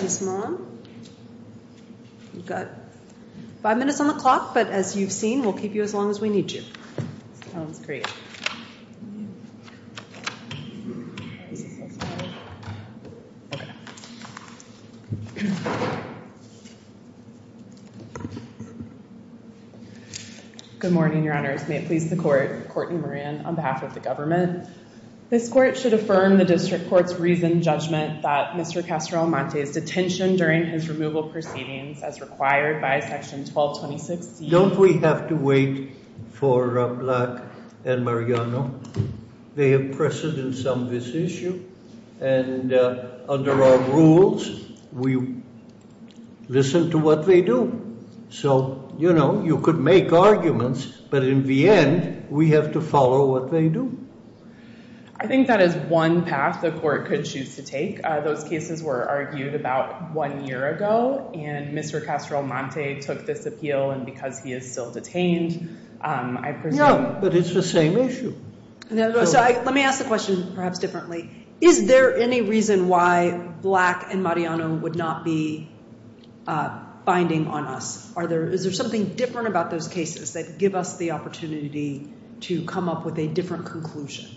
Ms. Maughan, you've got five minutes on the clock, but as you've seen, we'll keep you as long as we need you. Sounds great. Good morning, Your Honors. May it please the court, Courtney Moran, on behalf of the government. This court should affirm the district court's reasoned detention during his removal proceedings as required by Section 1226C. Don't we have to wait for Black and Mariano? They have precedence on this issue, and under our rules, we listen to what they do. So you could make arguments, but in the end, we have to follow what they do. I think that is one path the court could choose to take. Those cases were argued about one year ago, and Mr. Castro-Almonte took this appeal, and because he is still detained, I presume. No, but it's the same issue. Let me ask the question perhaps differently. Is there any reason why Black and Mariano would not be binding on us? Is there something different about those cases that give us the opportunity to come up with a different conclusion?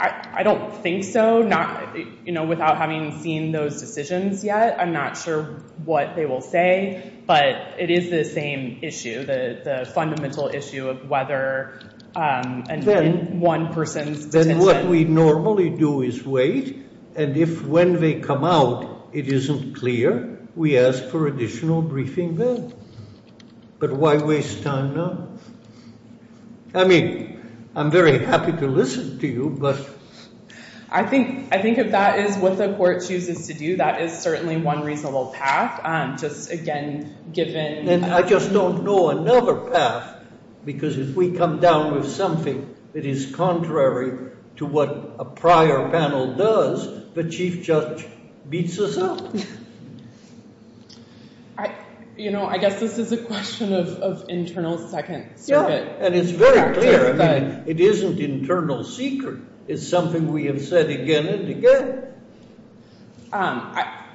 I don't think so. Without having seen those decisions yet, I'm not sure what they will say, but it is the same issue, the fundamental issue of whether one person's detention. Then what we normally do is wait, and if when they come out it isn't clear, we ask for additional briefing then. But why waste time now? I mean, I'm very happy to listen to you, but. I think if that is what the court chooses to do, that is certainly one reasonable path. Just again, given. And I just don't know another path, because if we come down with something that is contrary to what a prior panel does, the chief judge beats us up. You know, I guess this is a question of internal Second Circuit practice. Yeah, and it's very clear. It isn't internal secret. It's something we have said again and again. I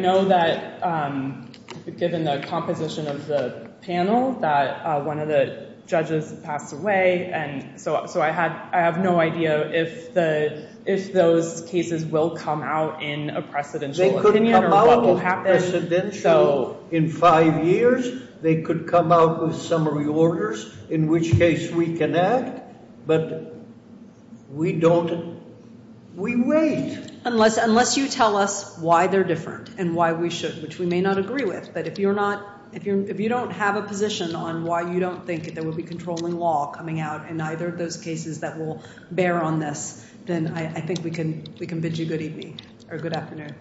know that given the composition of the panel that one of the judges passed away, and so I have no idea if those cases will come out in a precedential opinion or what will happen. They could come out precedential in five years. They could come out with summary orders, in which case we can act. But we don't. We wait. Unless you tell us why they're different and why we should, which we may not agree with. But if you don't have a position on why you don't think there will be controlling law coming out in either of those cases that will bear on this, then I think we can bid you good evening. Or good afternoon.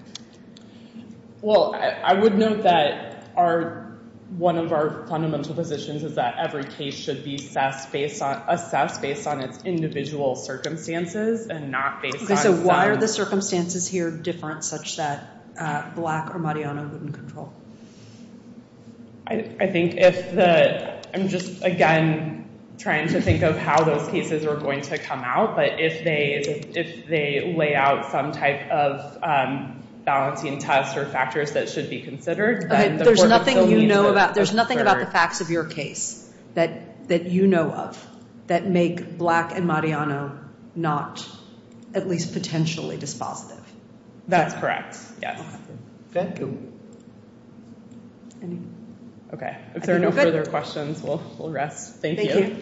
Well, I would note that one of our fundamental positions is that every case should be assessed based on its individual circumstances and not based on some. So why are the circumstances here different such that Black or Mariano wouldn't control? I think if the, I'm just, again, trying to think of how those cases are going to come out. But if they lay out some type of balancing test or factors that should be considered, then the court would still need to defer. There's nothing about the facts of your case that you know of that make Black and Mariano not, at least, potentially dispositive. That's correct. Yes. Thank you. OK. If there are no further questions, we'll rest. Thank you.